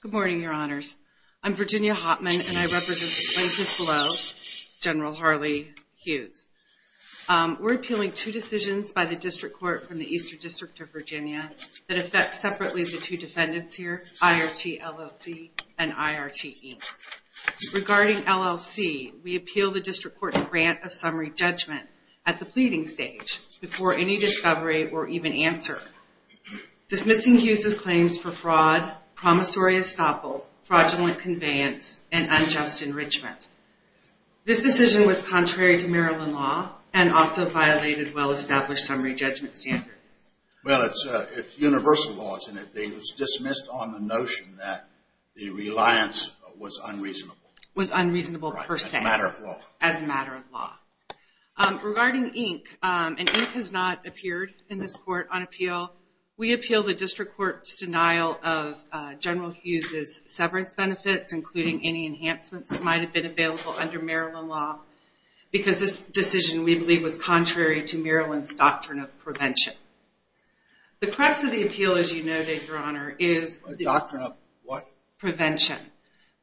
Good morning, your honors. I'm Virginia Hopman, and I represent the plaintiffs below, General Harley Hughes. We're appealing two decisions by the district court from the Eastern District of Virginia that affect separately the two defendants here, IRT LLC and IRT Inc. Regarding LLC, we appeal the district court's grant of summary judgment at the pleading stage before any discovery or even answer. Dismissing Hughes' claims for fraud, promissory estoppel, fraudulent conveyance, and unjust enrichment. This decision was contrary to Maryland law and also violated well-established summary judgment standards. Well, it's universal laws, and it was dismissed on the notion that the reliance was unreasonable. Was unreasonable per se. As a matter of law. As a matter of law. Regarding Inc., and Inc. has not appeared in this court on appeal, we appeal the district court's denial of General Hughes' severance benefits, including any enhancements that might have been available under Maryland law. Because this decision, we believe, was contrary to Maryland's doctrine of prevention. The crux of the appeal, as you know, your honor, is the doctrine of what? Prevention.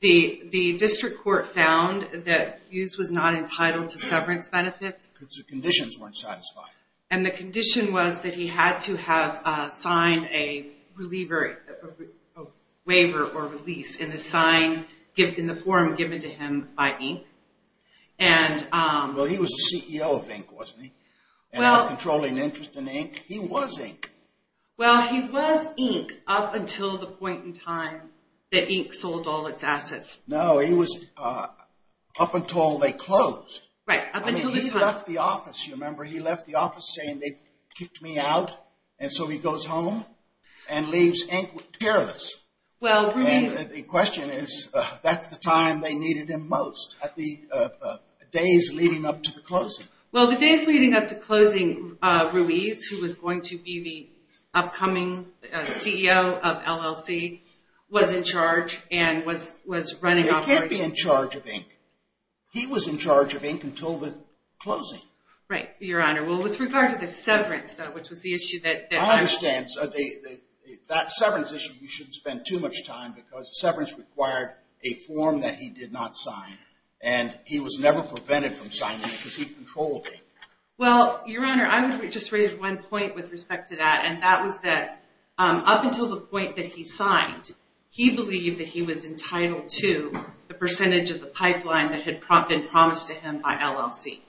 The district court found that Hughes was not entitled to severance benefits. Because the conditions weren't satisfied. And the condition was that he had to have signed a waiver or release in the form given to him by Inc. Well, he was the CEO of Inc., wasn't he? And had a controlling interest in Inc. He was Inc. Well, he was Inc. up until the point in time that Inc. sold all its assets. No, he was up until they closed. Right, up until the time. He left the office, you remember? He left the office saying, they kicked me out. And so he goes home and leaves Inc. careless. Well, Ruiz. The question is, that's the time they needed him most, the days leading up to the closing. Well, the days leading up to closing, Ruiz, who was going to be the upcoming CEO of LLC, was in charge and was running operations. He was in charge of Inc. until the closing. Right, Your Honor. Well, with regard to the severance, though, which was the issue that I'm. I understand. That severance issue, you shouldn't spend too much time because severance required a form that he did not sign. And he was never prevented from signing it because he controlled it. Well, Your Honor, I would just raise one point with respect to that. And that was that up until the point that he signed, he believed that he was entitled to the percentage of the pipeline that had been promised to him by LLC.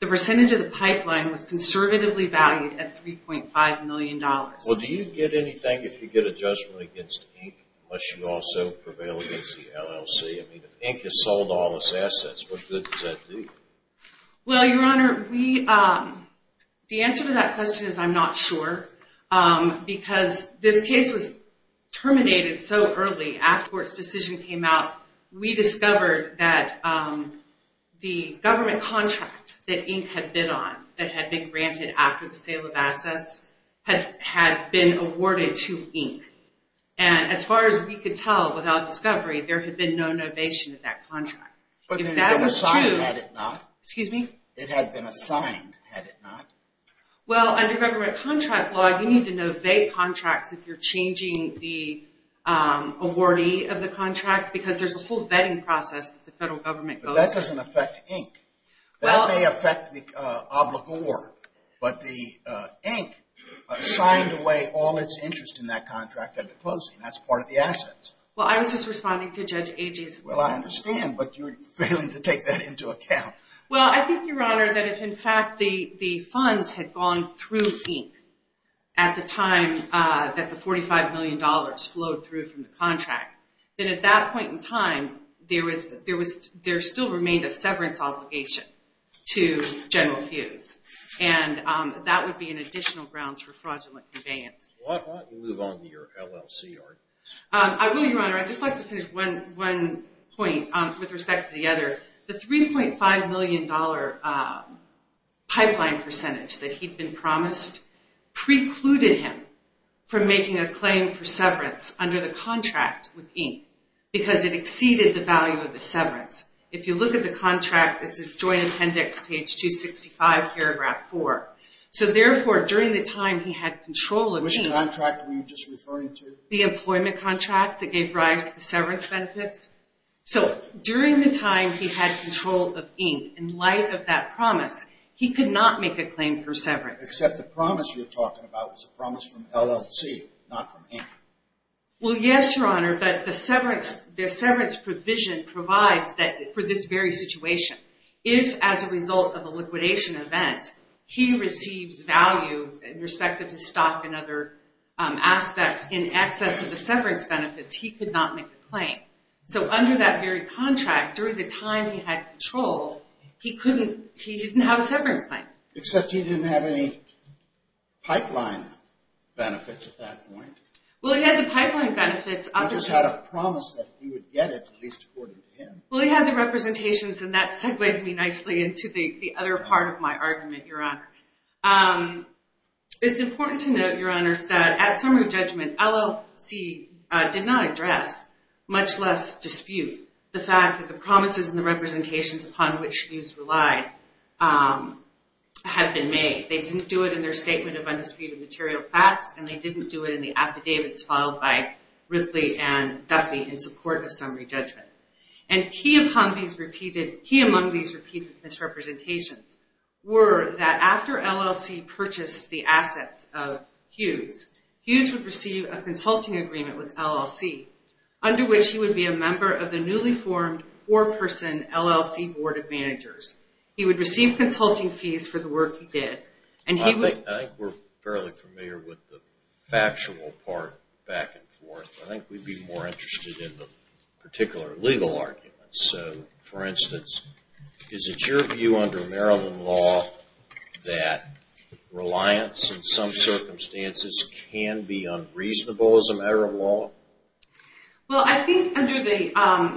The percentage of the pipeline was conservatively valued at $3.5 million. Well, do you get anything if you get a judgment against Inc. unless you also prevailed against the LLC? I mean, if Inc. has sold all its assets, what good does that do? Well, Your Honor, the answer to that question is I'm not sure. Because this case was terminated so early, after its decision came out, we discovered that the government contract that Inc. had bid on, that had been granted after the sale of assets, had been awarded to Inc. And as far as we could tell, without discovery, there had been no novation of that contract. But it had been assigned, had it not? Excuse me? It had been assigned, had it not? Well, under government contract law, you need to novate contracts if you're changing the awardee of the contract. Because there's a whole vetting process that the federal government goes through. But that doesn't affect Inc. That may affect the obligor. But the Inc. signed away all its interest in that contract at the closing. That's part of the assets. Well, I was just responding to Judge Agee's point. Well, I understand. But you're failing to take that into account. Well, I think, Your Honor, that if, in fact, the funds had gone through Inc. at the time that the $45 million flowed through from the contract, then at that point in time, there still remained a severance obligation to General Hughes. And that would be an additional grounds for fraudulent conveyance. Why don't you move on to your LLC arguments? I will, Your Honor. I'd just like to finish one point with respect to the other. The $3.5 million pipeline percentage that he'd been promised precluded him from making a claim for severance under the contract with Inc. Because it exceeded the value of the severance. If you look at the contract, it's a joint appendix, page 265, paragraph 4. So therefore, during the time he had control of Inc. Which contract were you just referring to? The employment contract that gave rise to the severance benefits. So during the time he had control of Inc., in light of that promise, he could not make a claim for severance. Except the promise you're talking about was a promise from LLC, not from Inc. Well, yes, Your Honor. But the severance provision provides that for this very situation. If, as a result of a liquidation event, he receives value in respect of his stock and other aspects in excess of the severance benefits, he could not make a claim. So under that very contract, during the time he had control, he didn't have a severance claim. Except you didn't have any pipeline benefits at that point. Well, he had the pipeline benefits. He just had a promise that he would get it, at least according to him. Well, he had the representations. And that segues me nicely into the other part of my argument, Your Honor. It's important to note, Your Honors, much less dispute, the fact that the promises and the representations upon which Hughes relied had been made. They didn't do it in their statement of undisputed material facts. And they didn't do it in the affidavits filed by Ripley and Duffy in support of summary judgment. And key among these repeated misrepresentations were that after LLC purchased the assets of Hughes, Hughes would receive a consulting agreement with LLC, under which he would be a member of the newly formed four-person LLC board of managers. He would receive consulting fees for the work he did. I think we're fairly familiar with the factual part back and forth. I think we'd be more interested in the particular legal arguments. So for instance, is it your view under Maryland law that reliance in some circumstances can be unreasonable as a matter of law? Well, I think under the, I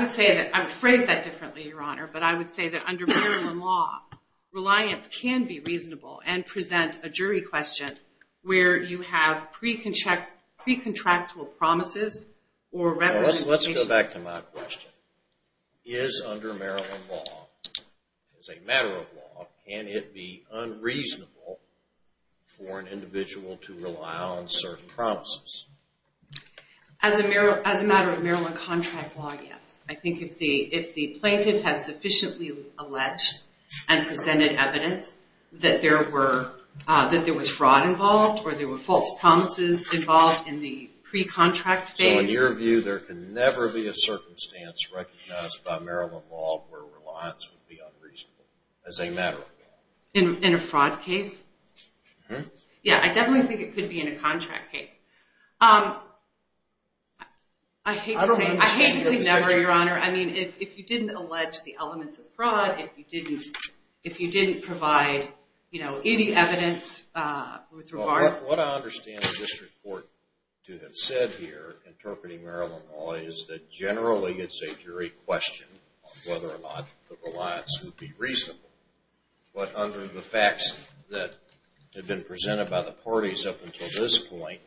would say that, I would phrase that differently, Your Honor. But I would say that under Maryland law, reliance can be reasonable and present a jury question where you have pre-contractual promises or representations. Let's go back to my question. Is under Maryland law, as a matter of law, can it be unreasonable for an individual to rely on certain promises? As a matter of Maryland contract law, yes. I think if the plaintiff has sufficiently alleged and presented evidence that there was fraud involved or there were false promises involved in the pre-contract phase. So in your view, there can never be a circumstance recognized by Maryland law where reliance would be unreasonable as a matter of law? In a fraud case? Yeah. I definitely think it could be in a contract case. I hate to say never, Your Honor. I mean, if you didn't allege the elements of fraud, if you didn't provide any evidence with regard to it. What I understand the district court to have said here, interpreting Maryland law, is that generally it's a jury question on whether or not the reliance would be reasonable. But under the facts that have been presented by the parties up until this point,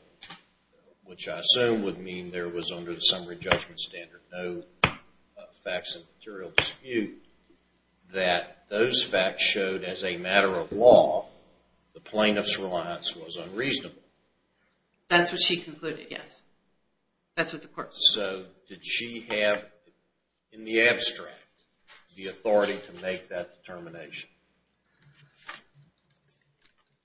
which I assume would mean there was under the summary judgment standard no facts of material dispute, that those facts showed as a matter of law, the plaintiff's reliance was unreasonable. That's what she concluded, yes. That's what the court said. So did she have, in the abstract, the authority to make that determination?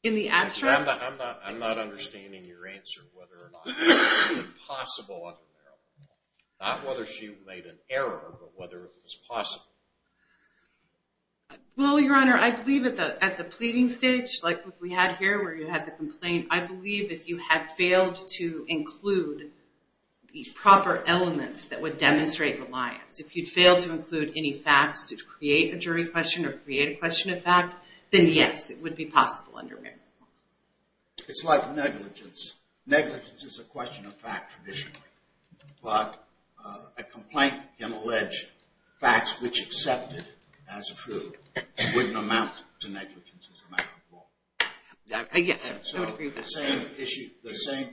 In the abstract? I'm not understanding your answer whether or not it was possible under Maryland law. Not whether she made an error, but whether it was possible. Well, Your Honor, I believe at the pleading stage, like we had here where you had the complaint, I believe if you had failed to include the proper elements that would demonstrate reliance, if you'd failed to include any facts to create a jury question or create a question of fact, then yes, it would be possible under Maryland law. It's like negligence. Negligence is a question of fact, traditionally. But a complaint can allege facts which accepted as true wouldn't amount to negligence as a matter of law. Yes, I would agree with that. The same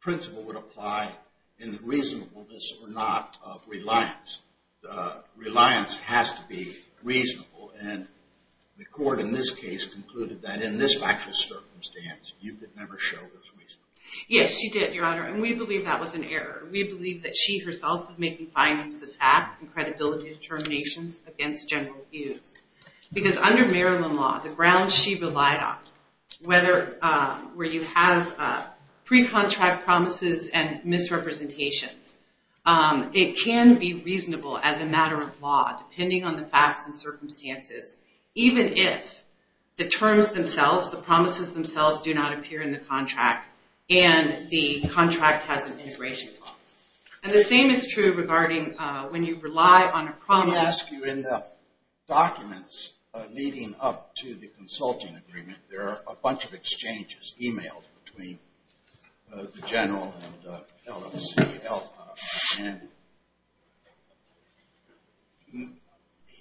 principle would apply in the reasonableness or not of reliance. Reliance has to be reasonable. And the court, in this case, concluded that in this factual circumstance, you could never show it was reasonable. Yes, she did, Your Honor. And we believe that was an error. We believe that she herself was making findings of fact and credibility determinations against general views. Because under Maryland law, the grounds she relied on, where you have pre-contract promises and misrepresentations, it can be reasonable as a matter of law, depending on the facts and circumstances, even if the terms themselves, the promises themselves, do not appear in the contract and the contract has an integration law. And the same is true regarding when you rely on a promise. Let me ask you, in the documents leading up to the consulting agreement, there was a man named LLC, L-I-N.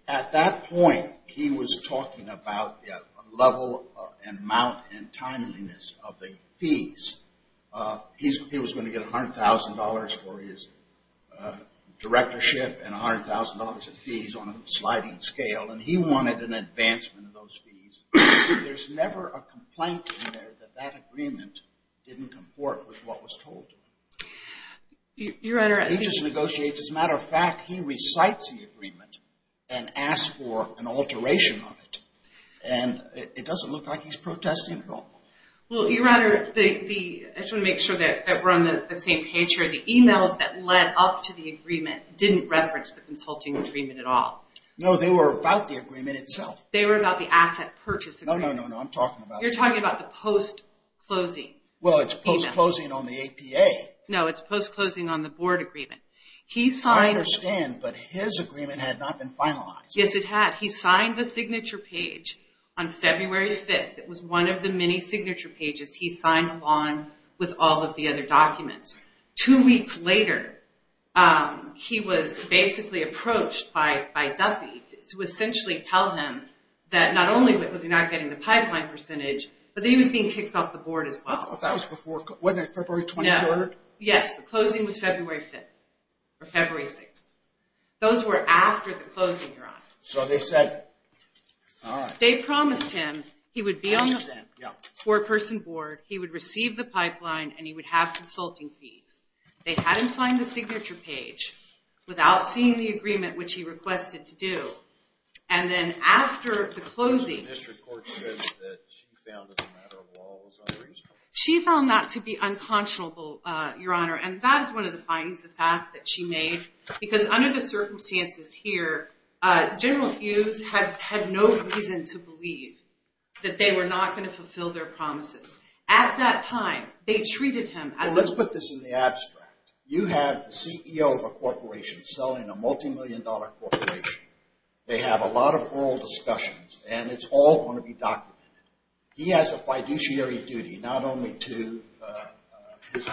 At that point, he was talking about the level and amount and timeliness of the fees. He was going to get $100,000 for his directorship and $100,000 in fees on a sliding scale. And he wanted an advancement of those fees. There's never a complaint in there that that agreement didn't comport with what was told. Your Honor, I think. He just negotiates. As a matter of fact, he recites the agreement and asks for an alteration of it. And it doesn't look like he's protesting at all. Well, Your Honor, I just want to make sure that we're on the same page here. The emails that led up to the agreement didn't reference the consulting agreement at all. No, they were about the agreement itself. They were about the asset purchase agreement. No, no, no, no. I'm talking about that. You're talking about the post-closing email. Well, it's post-closing on the APA. No, it's post-closing on the board agreement. I understand, but his agreement had not been finalized. Yes, it had. He signed the signature page on February 5th. It was one of the many signature pages he signed along with all of the other documents. Two weeks later, he was basically approached by Duffy to essentially tell him that not only was he not getting the pipeline percentage, but that he was being kicked off the board as well. That was before, wasn't it February 23rd? Yes, the closing was February 5th, or February 6th. Those were after the closing, Your Honor. So they said, all right. They promised him he would be on the four-person board, he would receive the pipeline, and he would have consulting fees. They had him sign the signature page without seeing the agreement, which he requested to do. And then after the closing, she found that to be unconscionable, Your Honor. And that is one of the findings, the fact that she made. Because under the circumstances here, General Hughes had no reason to believe that they were not going to fulfill their promises. At that time, they treated him as a You have the CEO of a corporation selling a multimillion-dollar corporation. They have a lot of oral discussions, and it's all going to be documented. He has a fiduciary duty, not only to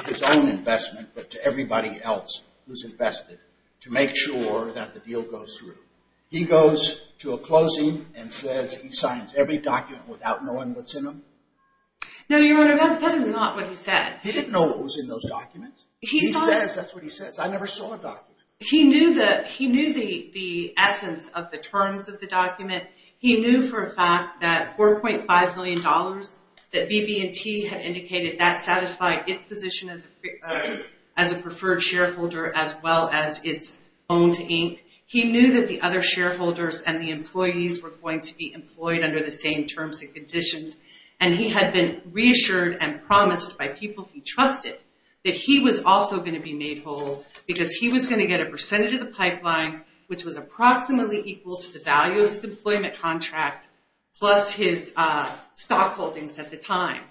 his own investment, but to everybody else who's invested, to make sure that the deal goes through. He goes to a closing and says he signs every document without knowing what's in them. No, Your Honor, that is not what he said. He didn't know what was in those documents. He says, that's what he says. I never saw a document. He knew the essence of the terms of the document. He knew for a fact that $4.5 million, that BB&T had indicated that satisfied its position as a preferred shareholder, as well as its own to Inc. He knew that the other shareholders and the employees were going to be employed under the same terms and conditions and he had been reassured and promised by people he trusted that he was also going to be made whole because he was going to get a percentage of the pipeline, which was approximately equal to the value of his employment contract, plus his stock holdings at the time.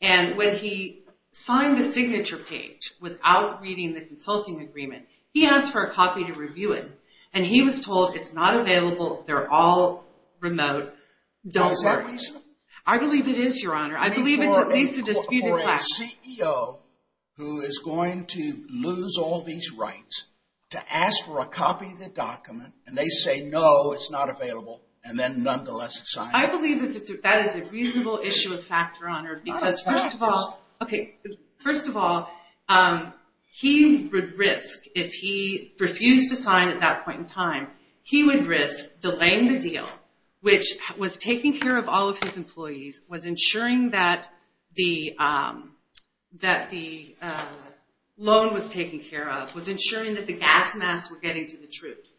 And when he signed the signature page without reading the consulting agreement, he asked for a copy to review it. And he was told it's not available. They're all remote. Don't worry. Is that reasonable? I believe it is, Your Honor. I believe it's at least a disputed fact. A CEO who is going to lose all these rights to ask for a copy of the document and they say, no, it's not available, and then nonetheless sign it. I believe that that is a reasonable issue of fact, Your Honor, because first of all, okay, first of all, he would risk, if he refused to sign at that point in time, he would risk delaying the deal, which was taking care of all of his employees, was ensuring that the loan was taken care of, was ensuring that the gas masks were getting to the troops.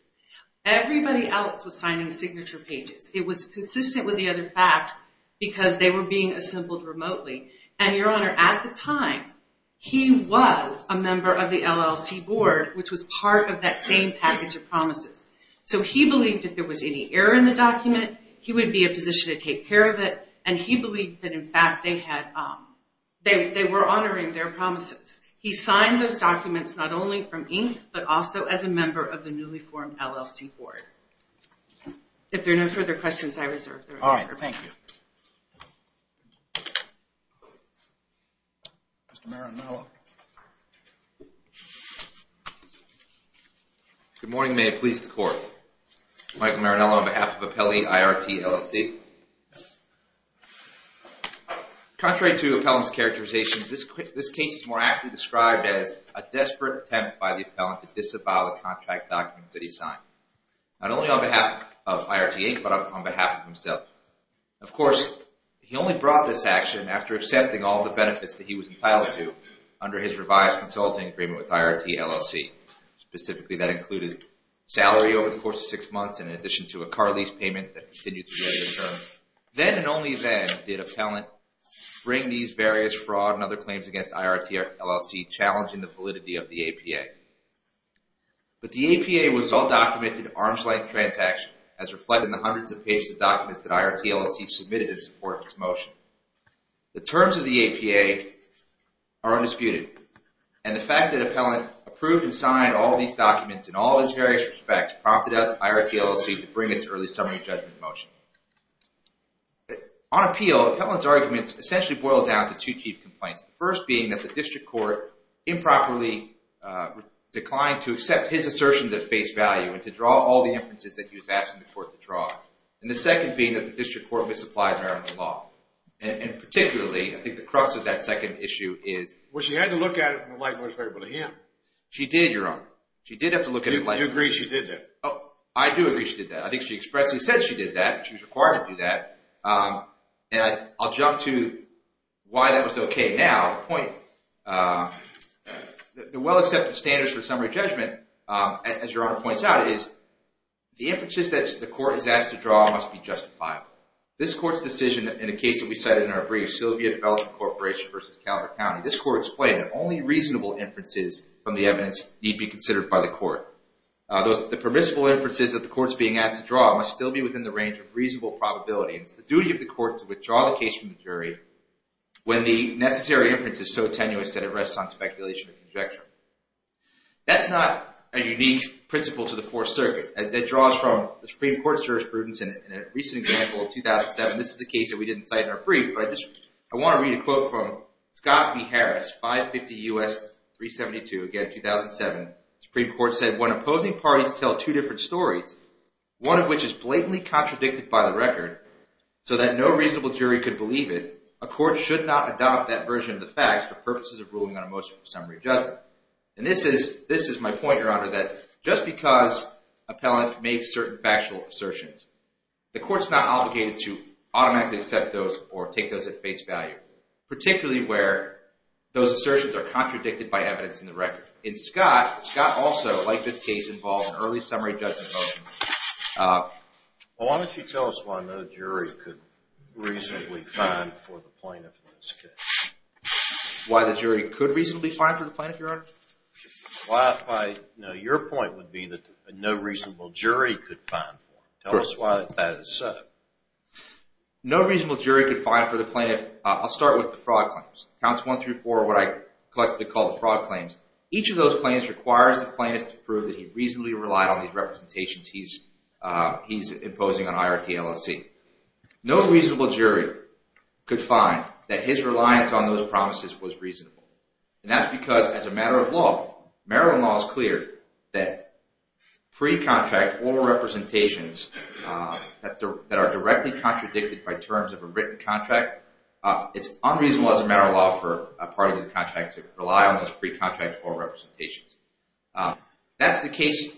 Everybody else was signing signature pages. It was consistent with the other facts because they were being assembled remotely. And Your Honor, at the time, he was a member of the LLC board, which was part of that same package of promises. So he believed if there was any error in the document, he would be in a position to take care of it. And he believed that in fact they had, they were honoring their promises. He signed those documents not only from Inc, but also as a member of the newly formed LLC board. If there are no further questions, I reserve the right. All right, thank you. Mr. Marinello. Good morning, may it please the court. Michael Marinello on behalf of Apelli IRT LLC. Contrary to appellant's characterizations, this case is more accurately described as a desperate attempt by the appellant to disavow the contract documents that he signed. Not only on behalf of IRT Inc, but on behalf of himself. Of course, he only brought this action after accepting all the benefits that he was entitled to under his revised consulting agreement with IRT LLC. Specifically, that included salary over the course of six months, in addition to a car lease payment that continued throughout the term. Then and only then did appellant bring these various fraud and other claims against IRT LLC, challenging the validity of the APA. But the APA was all documented arm's length transaction as reflected in the hundreds of pages of documents that IRT LLC submitted in support of this motion. The terms of the APA are undisputed. And the fact that appellant approved and signed all these documents in all its various respects prompted IRT LLC to bring its early summary judgment motion. On appeal, appellant's arguments essentially boil down to two chief complaints. The first being that the district court improperly declined to accept his assertions at face value and to draw all the inferences that he was asking the court to draw. And the second being that the district court misapplied American law. And particularly, I think the crux of that second issue is- Well, she had to look at it in the light of what was favorable to him. She did, Your Honor. She did have to look at it- You agree she did that? Oh, I do agree she did that. I think she expressly said she did that. She was required to do that. And I'll jump to why that was okay now. The point, the well-accepted standards for summary judgment, as Your Honor points out, is the inferences that the court is asked to draw must be justifiable. This court's decision in a case that we cited in our brief, Sylvia Development Corporation versus Calvert County. This court explained that only reasonable inferences from the evidence need be considered by the court. The permissible inferences that the court's being asked to draw must still be within the range of reasonable probability. It's the duty of the court to withdraw the case from the jury when the necessary inference is so tenuous that it rests on speculation and conjecture. That's not a unique principle to the Fourth Circuit. That draws from the Supreme Court's jurisprudence in a recent example of 2007. This is a case that we didn't cite in our brief, but I wanna read a quote from Scott B. Harris, 550 U.S. 372, again, 2007. Supreme Court said, when opposing parties tell two different stories, one of which is blatantly contradicted by the record so that no reasonable jury could believe it, a court should not adopt that version of the facts for purposes of ruling on a motion for summary judgment. And this is my point, Your Honor, that just because appellant made certain factual assertions, the court's not obligated to automatically accept those or take those at face value, particularly where those assertions are contradicted by evidence in the record. In Scott, Scott also, like this case, involved an early summary judgment motion. Well, why don't you tell us why no jury could reasonably find for the plaintiff in this case? Why the jury could reasonably find for the plaintiff, Your Honor? Well, I, you know, your point would be that no reasonable jury could find for him. Tell us why that is so. No reasonable jury could find for the plaintiff. I'll start with the fraud claims. Counts one through four are what I collectively call the fraud claims. Each of those claims requires the plaintiff to prove that he reasonably relied on these representations he's imposing on IRT LLC. No reasonable jury could find that his reliance on those promises was reasonable. And that's because as a matter of law, Maryland law is clear that pre-contract oral representations that are directly contradicted by terms of a written contract, it's unreasonable as a matter of law for a part of the contract to rely on those pre-contract oral representations. That's the case,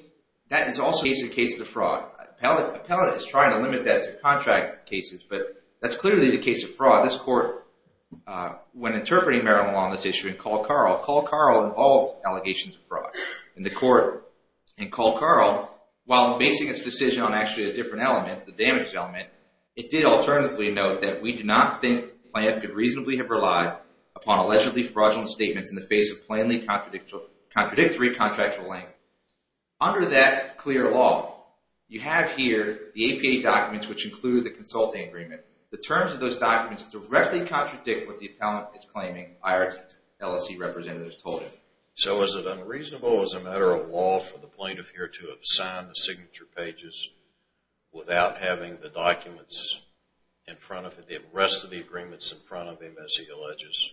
that is also a case of fraud. Appellate is trying to limit that to contract cases, but that's clearly the case of fraud. This court, when interpreting Maryland law on this issue in Cole Carl, Cole Carl involved allegations of fraud. In the court in Cole Carl, while basing its decision on actually a different element, the damage element, it did alternatively note that we do not think the plaintiff could reasonably have relied upon allegedly fraudulent statements in the face of plainly contradictory contractual language. Under that clear law, you have here the APA documents, which include the consulting agreement. The terms of those documents directly contradict what the appellant is claiming IRT LLC representatives told him. So is it unreasonable as a matter of law for the plaintiff here to have signed the signature pages without having the documents in front of him, rest of the agreements in front of him as he alleges?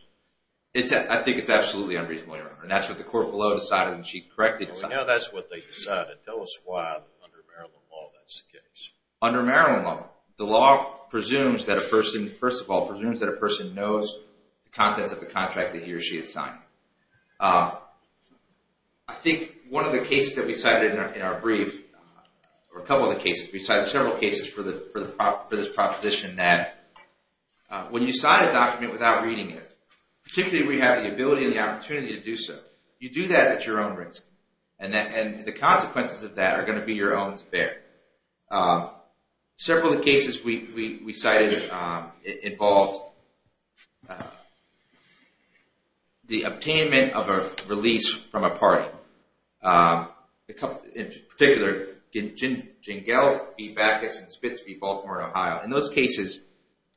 I think it's absolutely unreasonable, Your Honor, and that's what the court below decided and she correctly decided. Well, we know that's what they decided. Tell us why under Maryland law that's the case. Under Maryland law, the law presumes that a person, first of all, presumes that a person knows the contents of the contract that he or she has signed. I think one of the cases that we cited in our brief, or a couple of the cases, we cited several cases for this proposition that when you sign a document without reading it, particularly when you have the ability and the opportunity to do so, you do that at your own risk. And the consequences of that are gonna be your own to bear. Several of the cases we cited involved the attainment of a release from a party. In particular, Gingell v. Bacchus and Spitz v. Baltimore, Ohio. In those cases,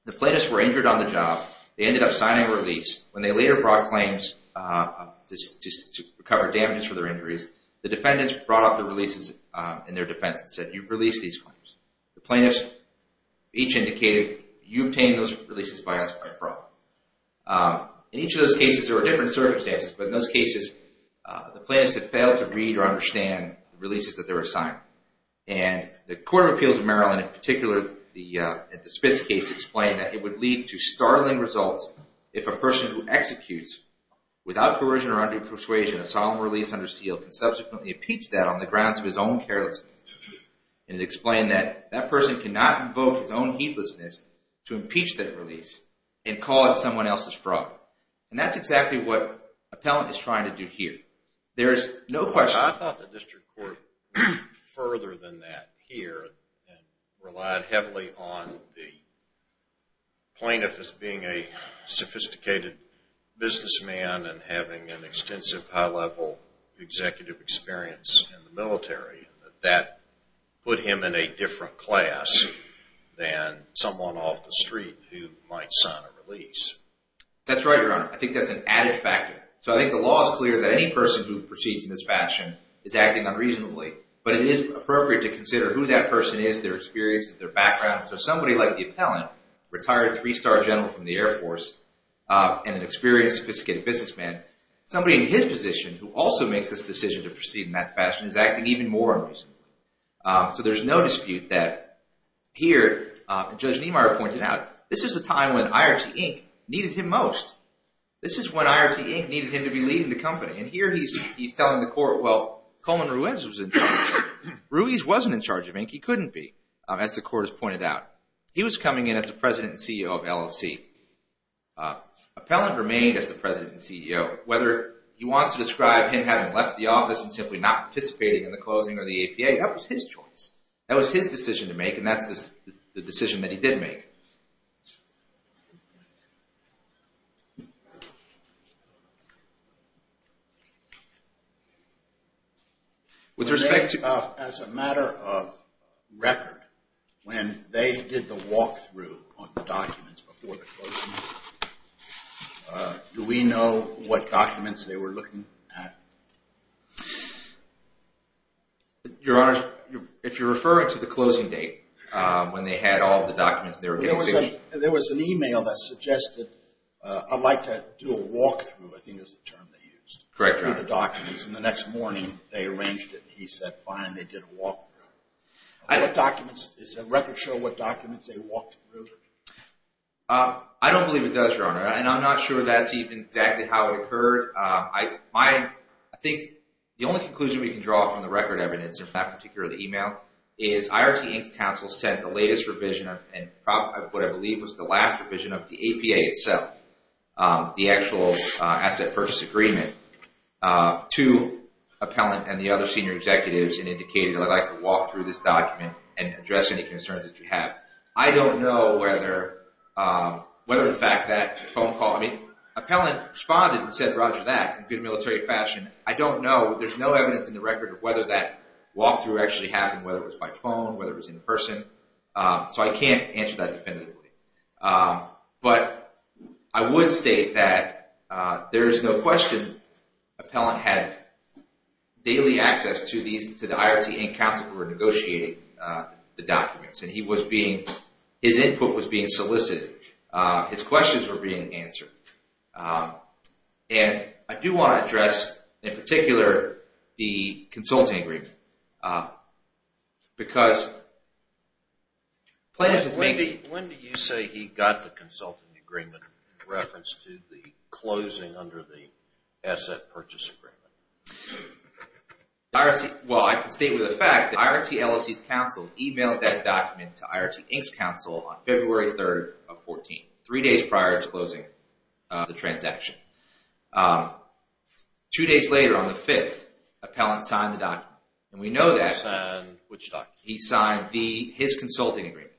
the plaintiffs were injured on the job, they ended up signing a release. When they later brought claims to recover damages for their injuries, the defendants brought up the releases in their defense and said, you've released these claims. The plaintiffs each indicated, you obtained those releases by us by fraud. In each of those cases, there were different circumstances, but in those cases, the plaintiffs had failed to read or understand the releases that they were signing. And the Court of Appeals of Maryland, in particular, at the Spitz case, explained that it would lead to startling results if a person who executes without coercion or undue persuasion a solemn release under seal can subsequently impeach that on the grounds of his own carelessness. And it explained that that person cannot invoke his own heedlessness to impeach that release and call it someone else's fraud. And that's exactly what appellant is trying to do here. There is no question. I thought the district court went further than that here and relied heavily on the plaintiff as being a sophisticated businessman and having an extensive high-level executive experience in the military, that that put him in a different class than someone off the street who might sign a release. That's right, Your Honor. I think that's an added factor. So I think the law is clear that any person who proceeds in this fashion is acting unreasonably, but it is appropriate to consider who that person is, their experiences, their background. So somebody like the appellant, retired three-star general from the Air Force and an experienced, sophisticated businessman, somebody in his position who also makes this decision to proceed in that fashion is acting even more unreasonably. So there's no dispute that here, Judge Niemeyer pointed out, this is a time when IRT, Inc. needed him most. This is when IRT, Inc. needed him to be leading the company. And here he's telling the court, well, Coleman Ruiz was in charge. Ruiz wasn't in charge of Inc., he couldn't be, as the court has pointed out. He was coming in as the president and CEO of LLC. Appellant remained as the president and CEO. Whether he wants to describe him having left the office and simply not participating in the closing of the APA, that was his choice. That was his decision to make, and that's the decision that he did make. With respect to... As a matter of record, when they did the walkthrough on the documents before the closing, do we know what documents they were looking at? Your Honor, if you're referring to the closing date, when they had all the documents they were getting... There was an email that suggested, I'd like to do a walkthrough, I think is the term they used. Correct, Your Honor. They went through the documents and the next morning they arranged it and he said, fine, they did a walkthrough. Is the record sure what documents they walked through? I don't believe it does, Your Honor, and I'm not sure that's even exactly how it occurred. I think the only conclusion we can draw from the record evidence, in fact, particularly the email, is IRT Inc.'s counsel sent the latest revision of what I believe was the last revision of the APA itself, the actual asset purchase agreement. To Appellant and the other senior executives and indicated, I'd like to walk through this document and address any concerns that you have. I don't know whether the fact that phone call... I mean, Appellant responded and said, roger that, in good military fashion. I don't know, there's no evidence in the record of whether that walkthrough actually happened, whether it was by phone, whether it was in person. So I can't answer that definitively. But I would state that there is no question Appellant had daily access to the IRT Inc. counsel who were negotiating the documents, and he was being, his input was being solicited. His questions were being answered. And I do want to address, in particular, the consulting agreement, because plaintiff is making... When do you say he got the consulting agreement in reference to the closing under the asset purchase agreement? Well, I can state with a fact that IRT LLC's counsel emailed that document to IRT Inc.'s counsel on February 3rd of 14, three days prior to closing the transaction. Two days later, on the 5th, Appellant signed the document. And we know that... He signed which document? He signed his consulting agreement.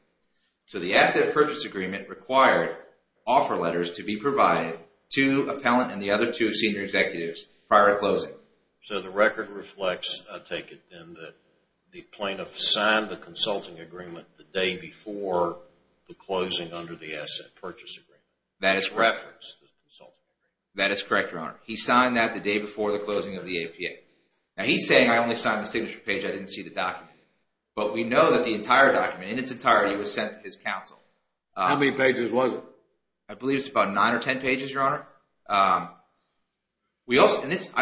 So the asset purchase agreement required offer letters to be provided to Appellant and the other two senior executives prior to closing. So the record reflects, I take it then, that the plaintiff signed the consulting agreement the day before the closing under the asset purchase agreement. That is correct. That is correct, Your Honor. He signed that the day before the closing of the APA. Now he's saying, I only signed the signature page, I didn't see the document. But we know that the entire document, in its entirety, was sent to his counsel. How many pages was it? I believe it's about nine or 10 pages, Your Honor. I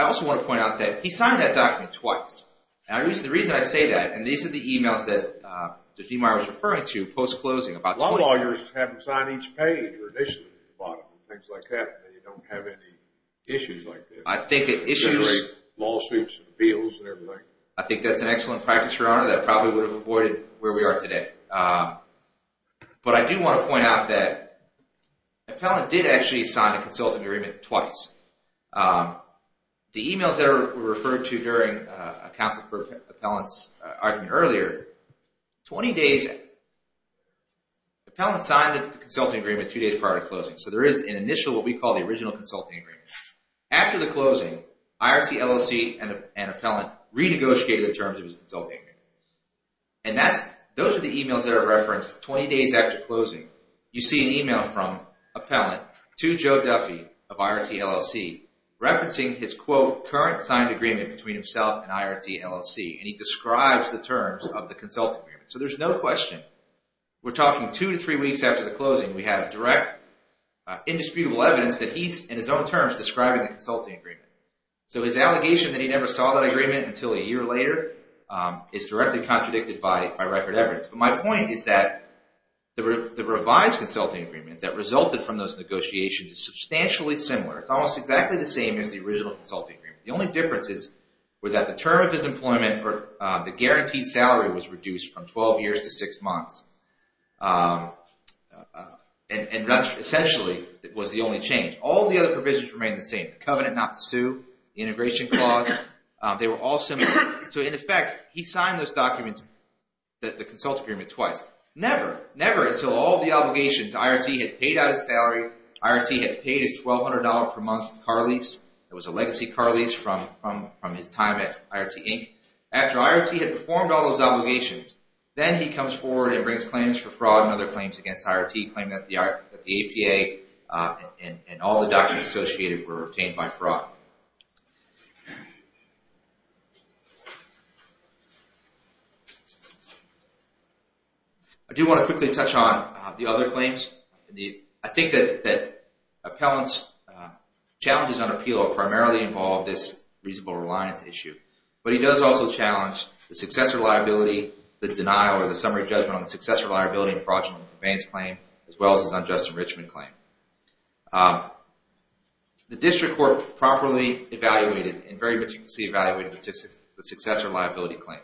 also want to point out that he signed that document twice. And the reason I say that, and these are the emails that Judge Demeyer was referring to post-closing, about 20... Lawyers have them sign each page, traditionally, at the bottom and things like that, and then you don't have any issues like this. I think it issues... Lawsuits and appeals and everything. I think that's an excellent practice, Your Honor, that probably would have avoided where we are today. But I do want to point out that Appellant did actually sign a consulting agreement twice. The emails that were referred to during a counsel for appellants argument earlier, 20 days... Appellant signed the consulting agreement two days prior to closing. So there is an initial, what we call, the original consulting agreement. After the closing, IRT, LLC, and Appellant renegotiated the terms of his consulting agreement. And that's... Those are the emails that are referenced 20 days after closing. You see an email from Appellant to Joe Duffy of IRT, LLC, referencing his, quote, current signed agreement between himself and IRT, LLC. And he describes the terms of the consulting agreement. So there's no question. We're talking two to three weeks after the closing. We have direct, indisputable evidence that he's, in his own terms, describing the consulting agreement. So his allegation that he never saw that agreement until a year later is directly contradicted by record evidence. But my point is that the revised consulting agreement that resulted from those negotiations is substantially similar. It's almost exactly the same as the original consulting agreement. The only differences were that the term of his employment or the guaranteed salary was reduced from 12 years to six months. And that's essentially was the only change. All the other provisions remained the same. The covenant not to sue, the integration clause. They were all similar. So in effect, he signed those documents, the consulting agreement, twice. Never, never until all the obligations. IRT had paid out his salary. IRT had paid his $1,200 per month car lease. It was a legacy car lease from his time at IRT, Inc. After IRT had performed all those obligations, then he comes forward and brings claims for fraud and other claims against IRT, claiming that the APA and all the documents associated were obtained by fraud. I do want to quickly touch on the other claims. I think that Appellant's challenges on appeal primarily involve this reasonable reliance issue. But he does also challenge the success reliability, the denial, or the summary judgment on the success reliability and fraudulent conveyance claim, as well as his unjust enrichment claim. The district court properly evaluated and very meticulously evaluated the successor liability claim.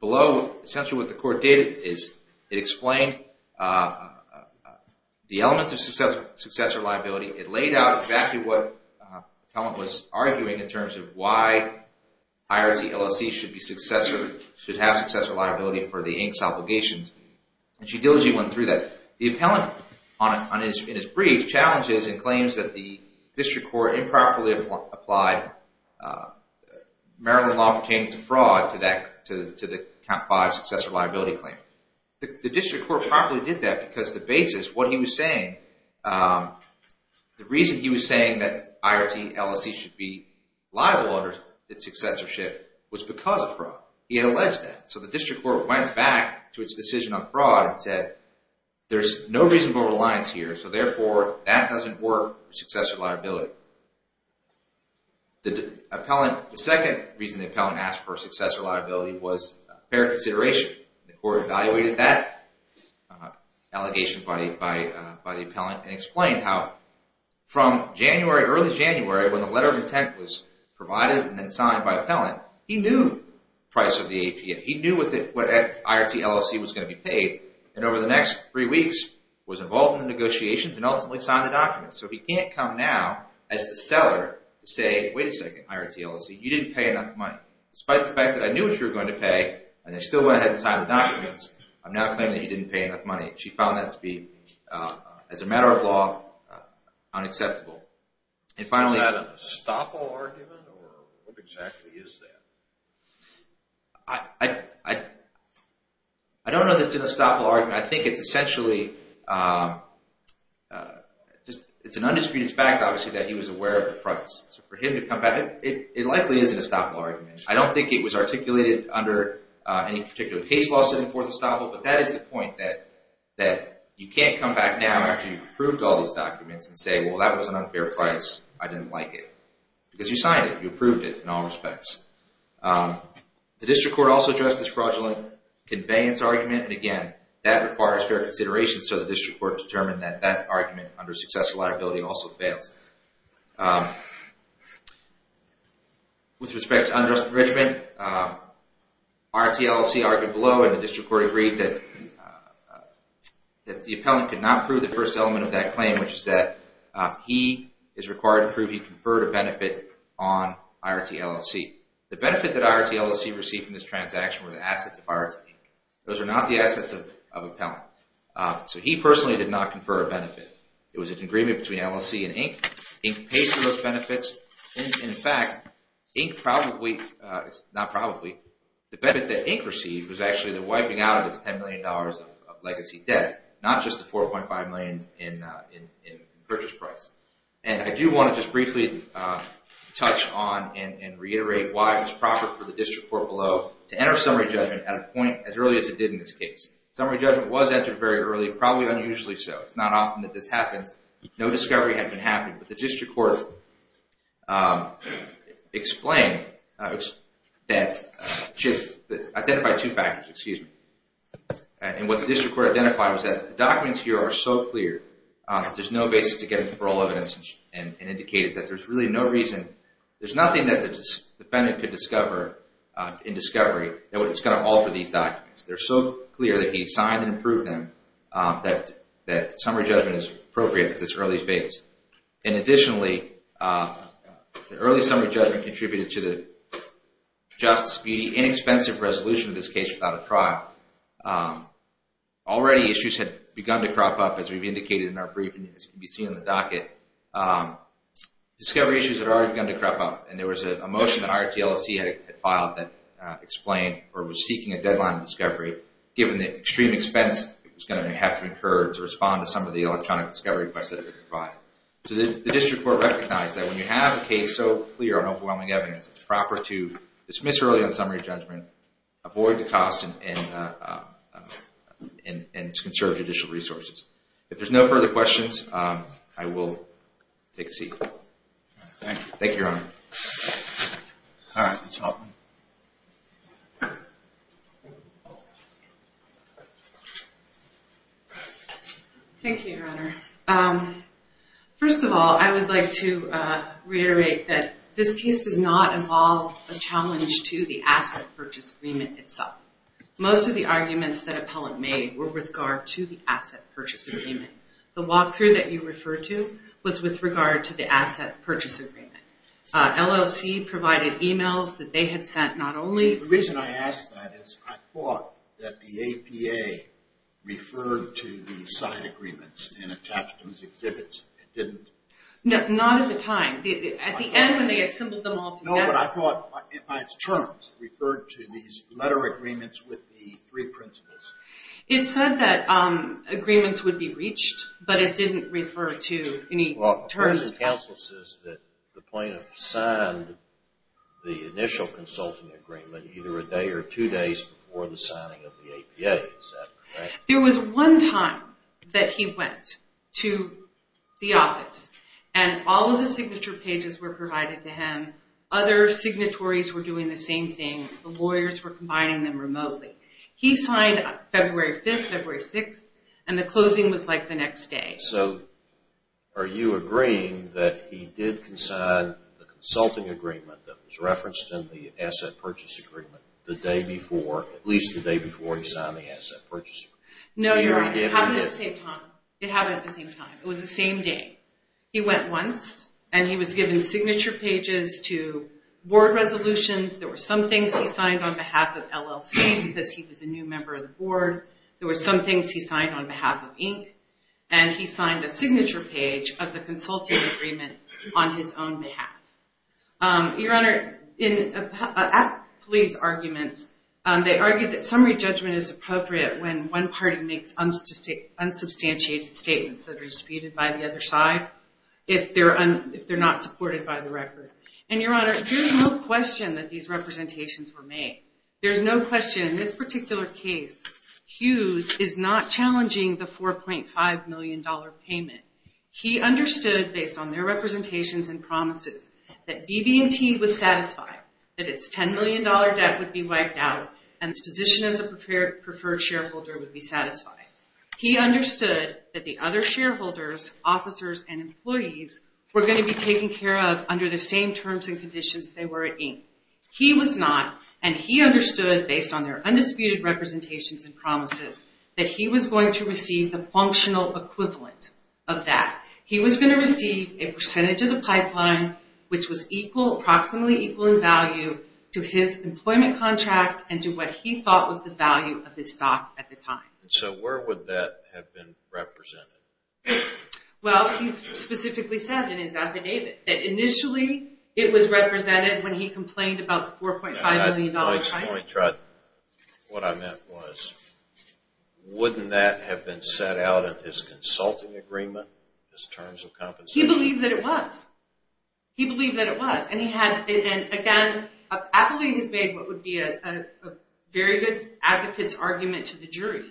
Below, essentially what the court did is, it explained the elements of successor liability. It laid out exactly what Appellant was arguing in terms of why IRT LLC should have successor liability for the Inc.'s obligations. And she diligently went through that. The Appellant, in his brief, challenges and claims that the district court improperly applied Maryland law pertaining to fraud to the count five successor liability claim. The district court properly did that because the basis, what he was saying, the reason he was saying that IRT LLC should be liable under its successorship was because of fraud. He had alleged that. So the district court went back to its decision on fraud and said, there's no reasonable reliance here, so therefore, that doesn't work for successor liability. The Appellant, the second reason the Appellant asked for successor liability was fair consideration. The court evaluated that allegation by the Appellant and explained how from January, early January, when the letter of intent was provided and then signed by Appellant, he knew the price of the APA. And over the next three weeks, was involved in the negotiations and ultimately signed the documents. So he can't come now as the seller to say, wait a second, IRT LLC, you didn't pay enough money. Despite the fact that I knew what you were going to pay and I still went ahead and signed the documents, I'm now claiming that you didn't pay enough money. She found that to be, as a matter of law, unacceptable. And finally- Is that an estoppel argument or what exactly is that? I don't know that it's an estoppel argument. I think it's essentially, it's an undisputed fact, obviously, that he was aware of the price. So for him to come back, it likely is an estoppel argument. I don't think it was articulated under any particular case law setting for the estoppel, but that is the point that you can't come back now after you've approved all these documents and say, well, that was an unfair price, I didn't like it. Because you signed it, you approved it in all respects. The District Court also addressed this fraudulent conveyance argument. And again, that requires fair consideration so the District Court determined that that argument under successful liability also fails. With respect to unjust enrichment, IRT LLC argued below and the District Court agreed that the appellant could not prove the first element of that claim, which is that he is required to prove he conferred a benefit on IRT LLC. The benefit that IRT LLC received from this transaction were the assets of IRT. Those are not the assets of appellant. So he personally did not confer a benefit. It was an agreement between LLC and Inc. Inc. pays for those benefits. In fact, Inc. probably, not probably, the benefit that Inc. received was actually the wiping out of his $10 million of legacy debt, not just the 4.5 million in purchase price. And I do want to just briefly touch on and reiterate why it was proper for the District Court below to enter summary judgment at a point as early as it did in this case. Summary judgment was entered very early, probably unusually so. It's not often that this happens. No discovery had been happened, but the District Court explained that, identified two factors, excuse me. And what the District Court identified was that the documents here are so clear that there's no basis to get into parole evidence and indicated that there's really no reason, there's nothing that the defendant could discover in discovery that's gonna alter these documents. They're so clear that he signed and approved them that summary judgment is appropriate at this early phase. And additionally, the early summary judgment contributed to the just, speedy, inexpensive resolution of this case without a trial. Already issues had begun to crop up, as we've indicated in our briefing, as can be seen in the docket. Discovery issues had already begun to crop up, and there was a motion that IRTLC had filed that explained, or was seeking a deadline of discovery, given the extreme expense it was gonna have to incur to respond to some of the electronic discovery requests that had been provided. So the District Court recognized that when you have a case so clear on overwhelming evidence, it's proper to dismiss early on summary judgment, avoid the cost, and conserve judicial resources. If there's no further questions, I will take a seat. Thank you, thank you, Your Honor. All right, Ms. Hoffman. Thank you, Your Honor. First of all, I would like to reiterate that this case does not involve a challenge to the asset purchase agreement itself. Most of the arguments that appellant made were with regard to the asset purchase agreement. The walkthrough that you referred to was with regard to the asset purchase agreement. LLC provided emails that they had sent not only. The reason I ask that is I thought that the APA referred to the side agreements and attached them as exhibits, it didn't. No, not at the time. At the end, when they assembled them all together. No, but I thought by its terms, referred to these letter agreements with the three principles. It said that agreements would be reached, but it didn't refer to any terms. Counsel says that the plaintiff signed the initial consulting agreement either a day or two days before the signing of the APA. Is that correct? There was one time that he went to the office and all of the signature pages were provided to him. Other signatories were doing the same thing. The lawyers were combining them remotely. He signed February 5th, February 6th, and the closing was like the next day. So, are you agreeing that he did sign the consulting agreement that was referenced in the asset purchase agreement the day before, at least the day before he signed the asset purchase agreement? No, you're right, it happened at the same time. It happened at the same time, it was the same day. He went once and he was given signature pages to board resolutions. because he was a new member of the board. There were some things he signed on behalf of Inc. and he signed the signature page of the consulting agreement on his own behalf. Your Honor, in a police arguments, they argued that summary judgment is appropriate when one party makes unsubstantiated statements that are disputed by the other side, if they're not supported by the record. And Your Honor, there's no question that these representations were made. There's no question, in this particular case, Hughes is not challenging the $4.5 million payment. He understood, based on their representations and promises, that BB&T was satisfied, that its $10 million debt would be wiped out, and its position as a preferred shareholder would be satisfied. He understood that the other shareholders, officers, and employees were gonna be taken care of under the same terms and conditions they were at Inc. He was not, and he understood, based on their undisputed representations and promises, that he was going to receive the functional equivalent of that. He was gonna receive a percentage of the pipeline, which was approximately equal in value, to his employment contract, and to what he thought was the value of his stock at the time. So where would that have been represented? Well, he specifically said in his affidavit that initially, it was represented when he complained about the $4.5 million price. My point, what I meant was, wouldn't that have been set out in his consulting agreement, his terms of compensation? He believed that it was. He believed that it was, and he had, again, I believe he's made what would be a very good advocate's argument to the jury,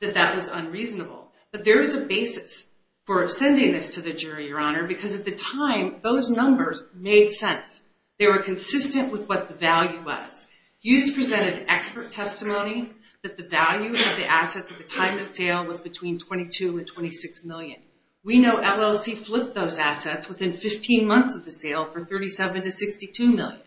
that that was unreasonable. But there is a basis for sending this to the jury, Your Honor, because at the time, those numbers made sense. They were consistent with what the value was. Hughes presented expert testimony that the value of the assets at the time of sale was between 22 and 26 million. We know LLC flipped those assets within 15 months of the sale for 37 to 62 million.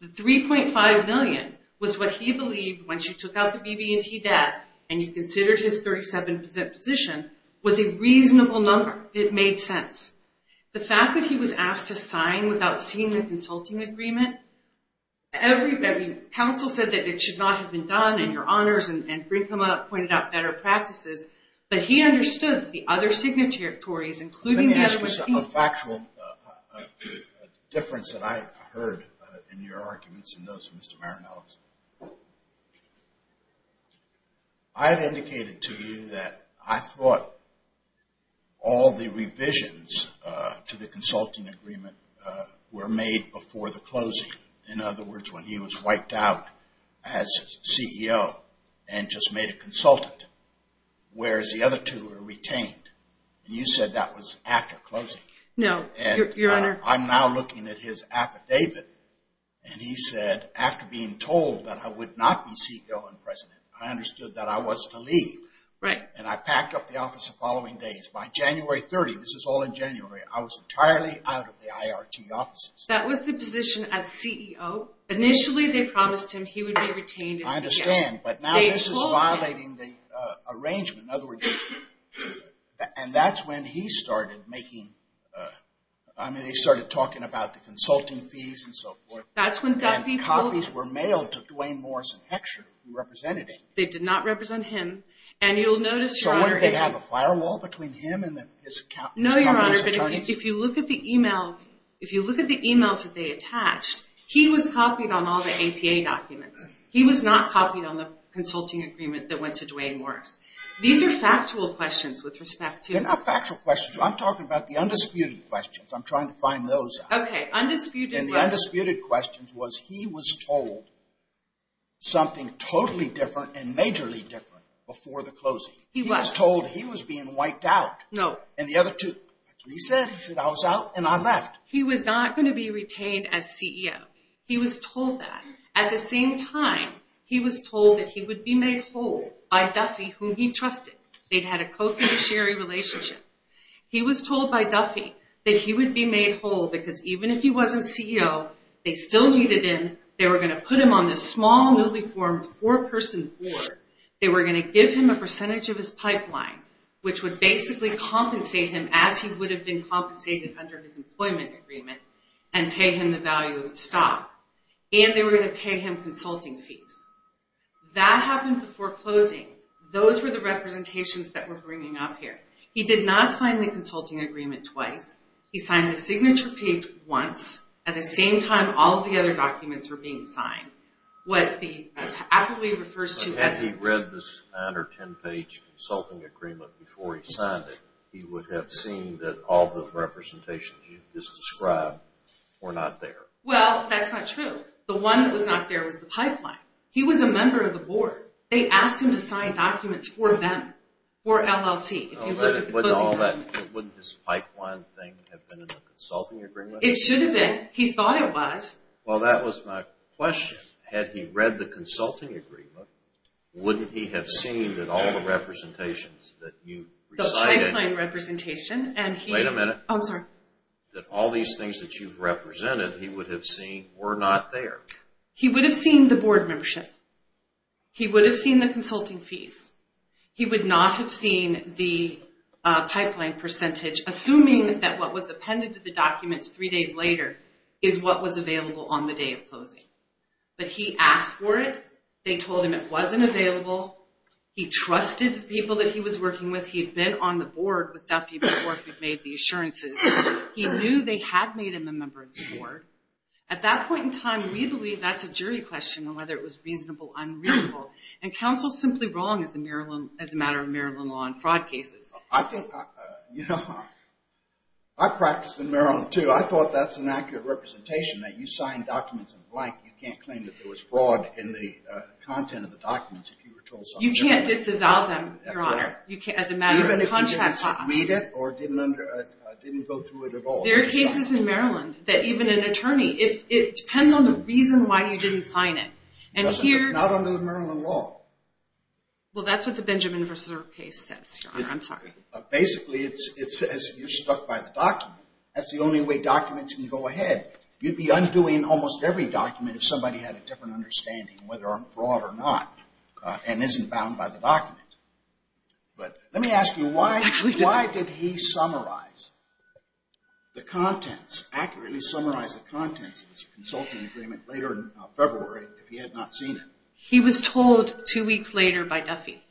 The 3.5 million was what he believed once you took out the BB&T debt, and you considered his 37% position, was a reasonable number. It made sense. The fact that he was asked to sign without seeing the consulting agreement, counsel said that it should not have been done, and Your Honors and Brinkman pointed out better practices, but he understood that the other signatories, including that of his people- Let me ask you a factual difference that I heard in your arguments and those of Mr. Maranelis. I had indicated to you that I thought all the revisions to the consulting agreement were made before the closing. In other words, when he was wiped out as CEO and just made a consultant, whereas the other two were retained. You said that was after closing. No, Your Honor. I'm now looking at his affidavit, and he said, after being told that I would not be CEO and president, I understood that I was to leave, and I packed up the office the following days. By January 30th, this is all in January, I was entirely out of the IRT offices. That was the position as CEO. Initially, they promised him he would be retained- I understand, but now this is violating the arrangement. In other words, and that's when he started making, I mean, they started talking about the consulting fees and so forth. That's when Duffy- The copies were mailed to Dwayne Morris and Heckscher, who represented him. They did not represent him, and you'll notice- So what, did they have a firewall between him and his communist attorneys? If you look at the emails that they attached, he was copied on all the APA documents. He was not copied on the consulting agreement that went to Dwayne Morris. These are factual questions with respect to- They're not factual questions. I'm trying to find those out. Okay, undisputed- And the undisputed question was, he was told something totally different and majorly different before the closing. He was told he was being wiped out. No. And the other two, that's what he said. He said, I was out, and I left. He was not gonna be retained as CEO. He was told that. At the same time, he was told that he would be made whole by Duffy, whom he trusted. They'd had a co-financiary relationship. He was told by Duffy that he would be made whole because even if he wasn't CEO, they still needed him. They were gonna put him on this small, newly formed four-person board. They were gonna give him a percentage of his pipeline, which would basically compensate him as he would have been compensated under his employment agreement and pay him the value of the stock. And they were gonna pay him consulting fees. That happened before closing. Those were the representations that we're bringing up here. He did not sign the consulting agreement twice. He signed the signature page once. At the same time, all of the other documents were being signed. What the appellee refers to as- Had he read this nine or 10-page consulting agreement before he signed it, he would have seen that all the representations you've just described were not there. Well, that's not true. The one that was not there was the pipeline. He was a member of the board. They asked him to sign documents for them, for LLC. If you look at the closing documents- Wouldn't his pipeline thing have been in the consulting agreement? It should have been. He thought it was. Well, that was my question. Had he read the consulting agreement, wouldn't he have seen that all the representations that you recited- The pipeline representation, and he- Wait a minute. Oh, I'm sorry. That all these things that you've represented, he would have seen were not there. He would have seen the board membership. He would have seen the consulting fees. He would not have seen the pipeline percentage, assuming that what was appended to the documents three days later is what was available on the day of closing. But he asked for it. They told him it wasn't available. He trusted the people that he was working with. He'd been on the board with Duffy before he'd made the assurances. He knew they had made him a member of the board. At that point in time, we believe that's a jury question on whether it was reasonable, unreasonable. And counsel's simply wrong as a matter of Maryland law and fraud cases. I think, you know, I practiced in Maryland too. I thought that's an accurate representation that you signed documents in blank. You can't claim that there was fraud in the content of the documents if you were told something- You can't disavow them, Your Honor, as a matter of contract law. Even if you didn't read it, or didn't go through it at all. There are cases in Maryland that even an attorney, if it depends on the reason why you didn't sign it. And here- Not under the Maryland law. Well, that's what the Benjamin vs. Earp case says, Your Honor, I'm sorry. Basically, it says you're stuck by the document. That's the only way documents can go ahead. You'd be undoing almost every document if somebody had a different understanding whether on fraud or not, and isn't bound by the document. But let me ask you, why did he summarize the contents, accurately summarize the contents of his consulting agreement later in February if he had not seen it? He was told two weeks later by Duffy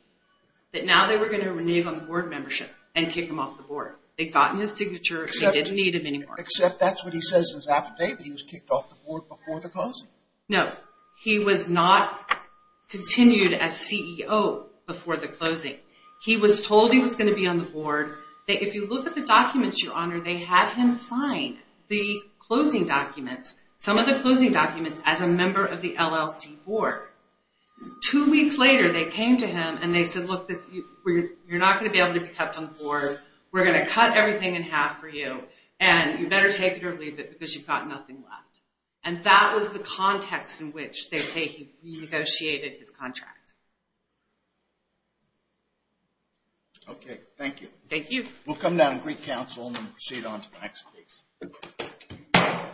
that now they were gonna renege on the board membership and kick him off the board. They'd gotten his signature, they didn't need him anymore. Except that's what he says in his affidavit, he was kicked off the board before the closing. No, he was not continued as CEO before the closing. He was told he was gonna be on the board, that if you look at the documents, Your Honor, they had him sign the closing documents, some of the closing documents, as a member of the LLC board. Two weeks later, they came to him and they said, look, you're not gonna be able to be kept on the board, we're gonna cut everything in half for you, and you better take it or leave it because you've got nothing left. And that was the context in which they say he renegotiated his contract. Okay, thank you. Thank you. We'll come down to Greek Council and then proceed on to the next case.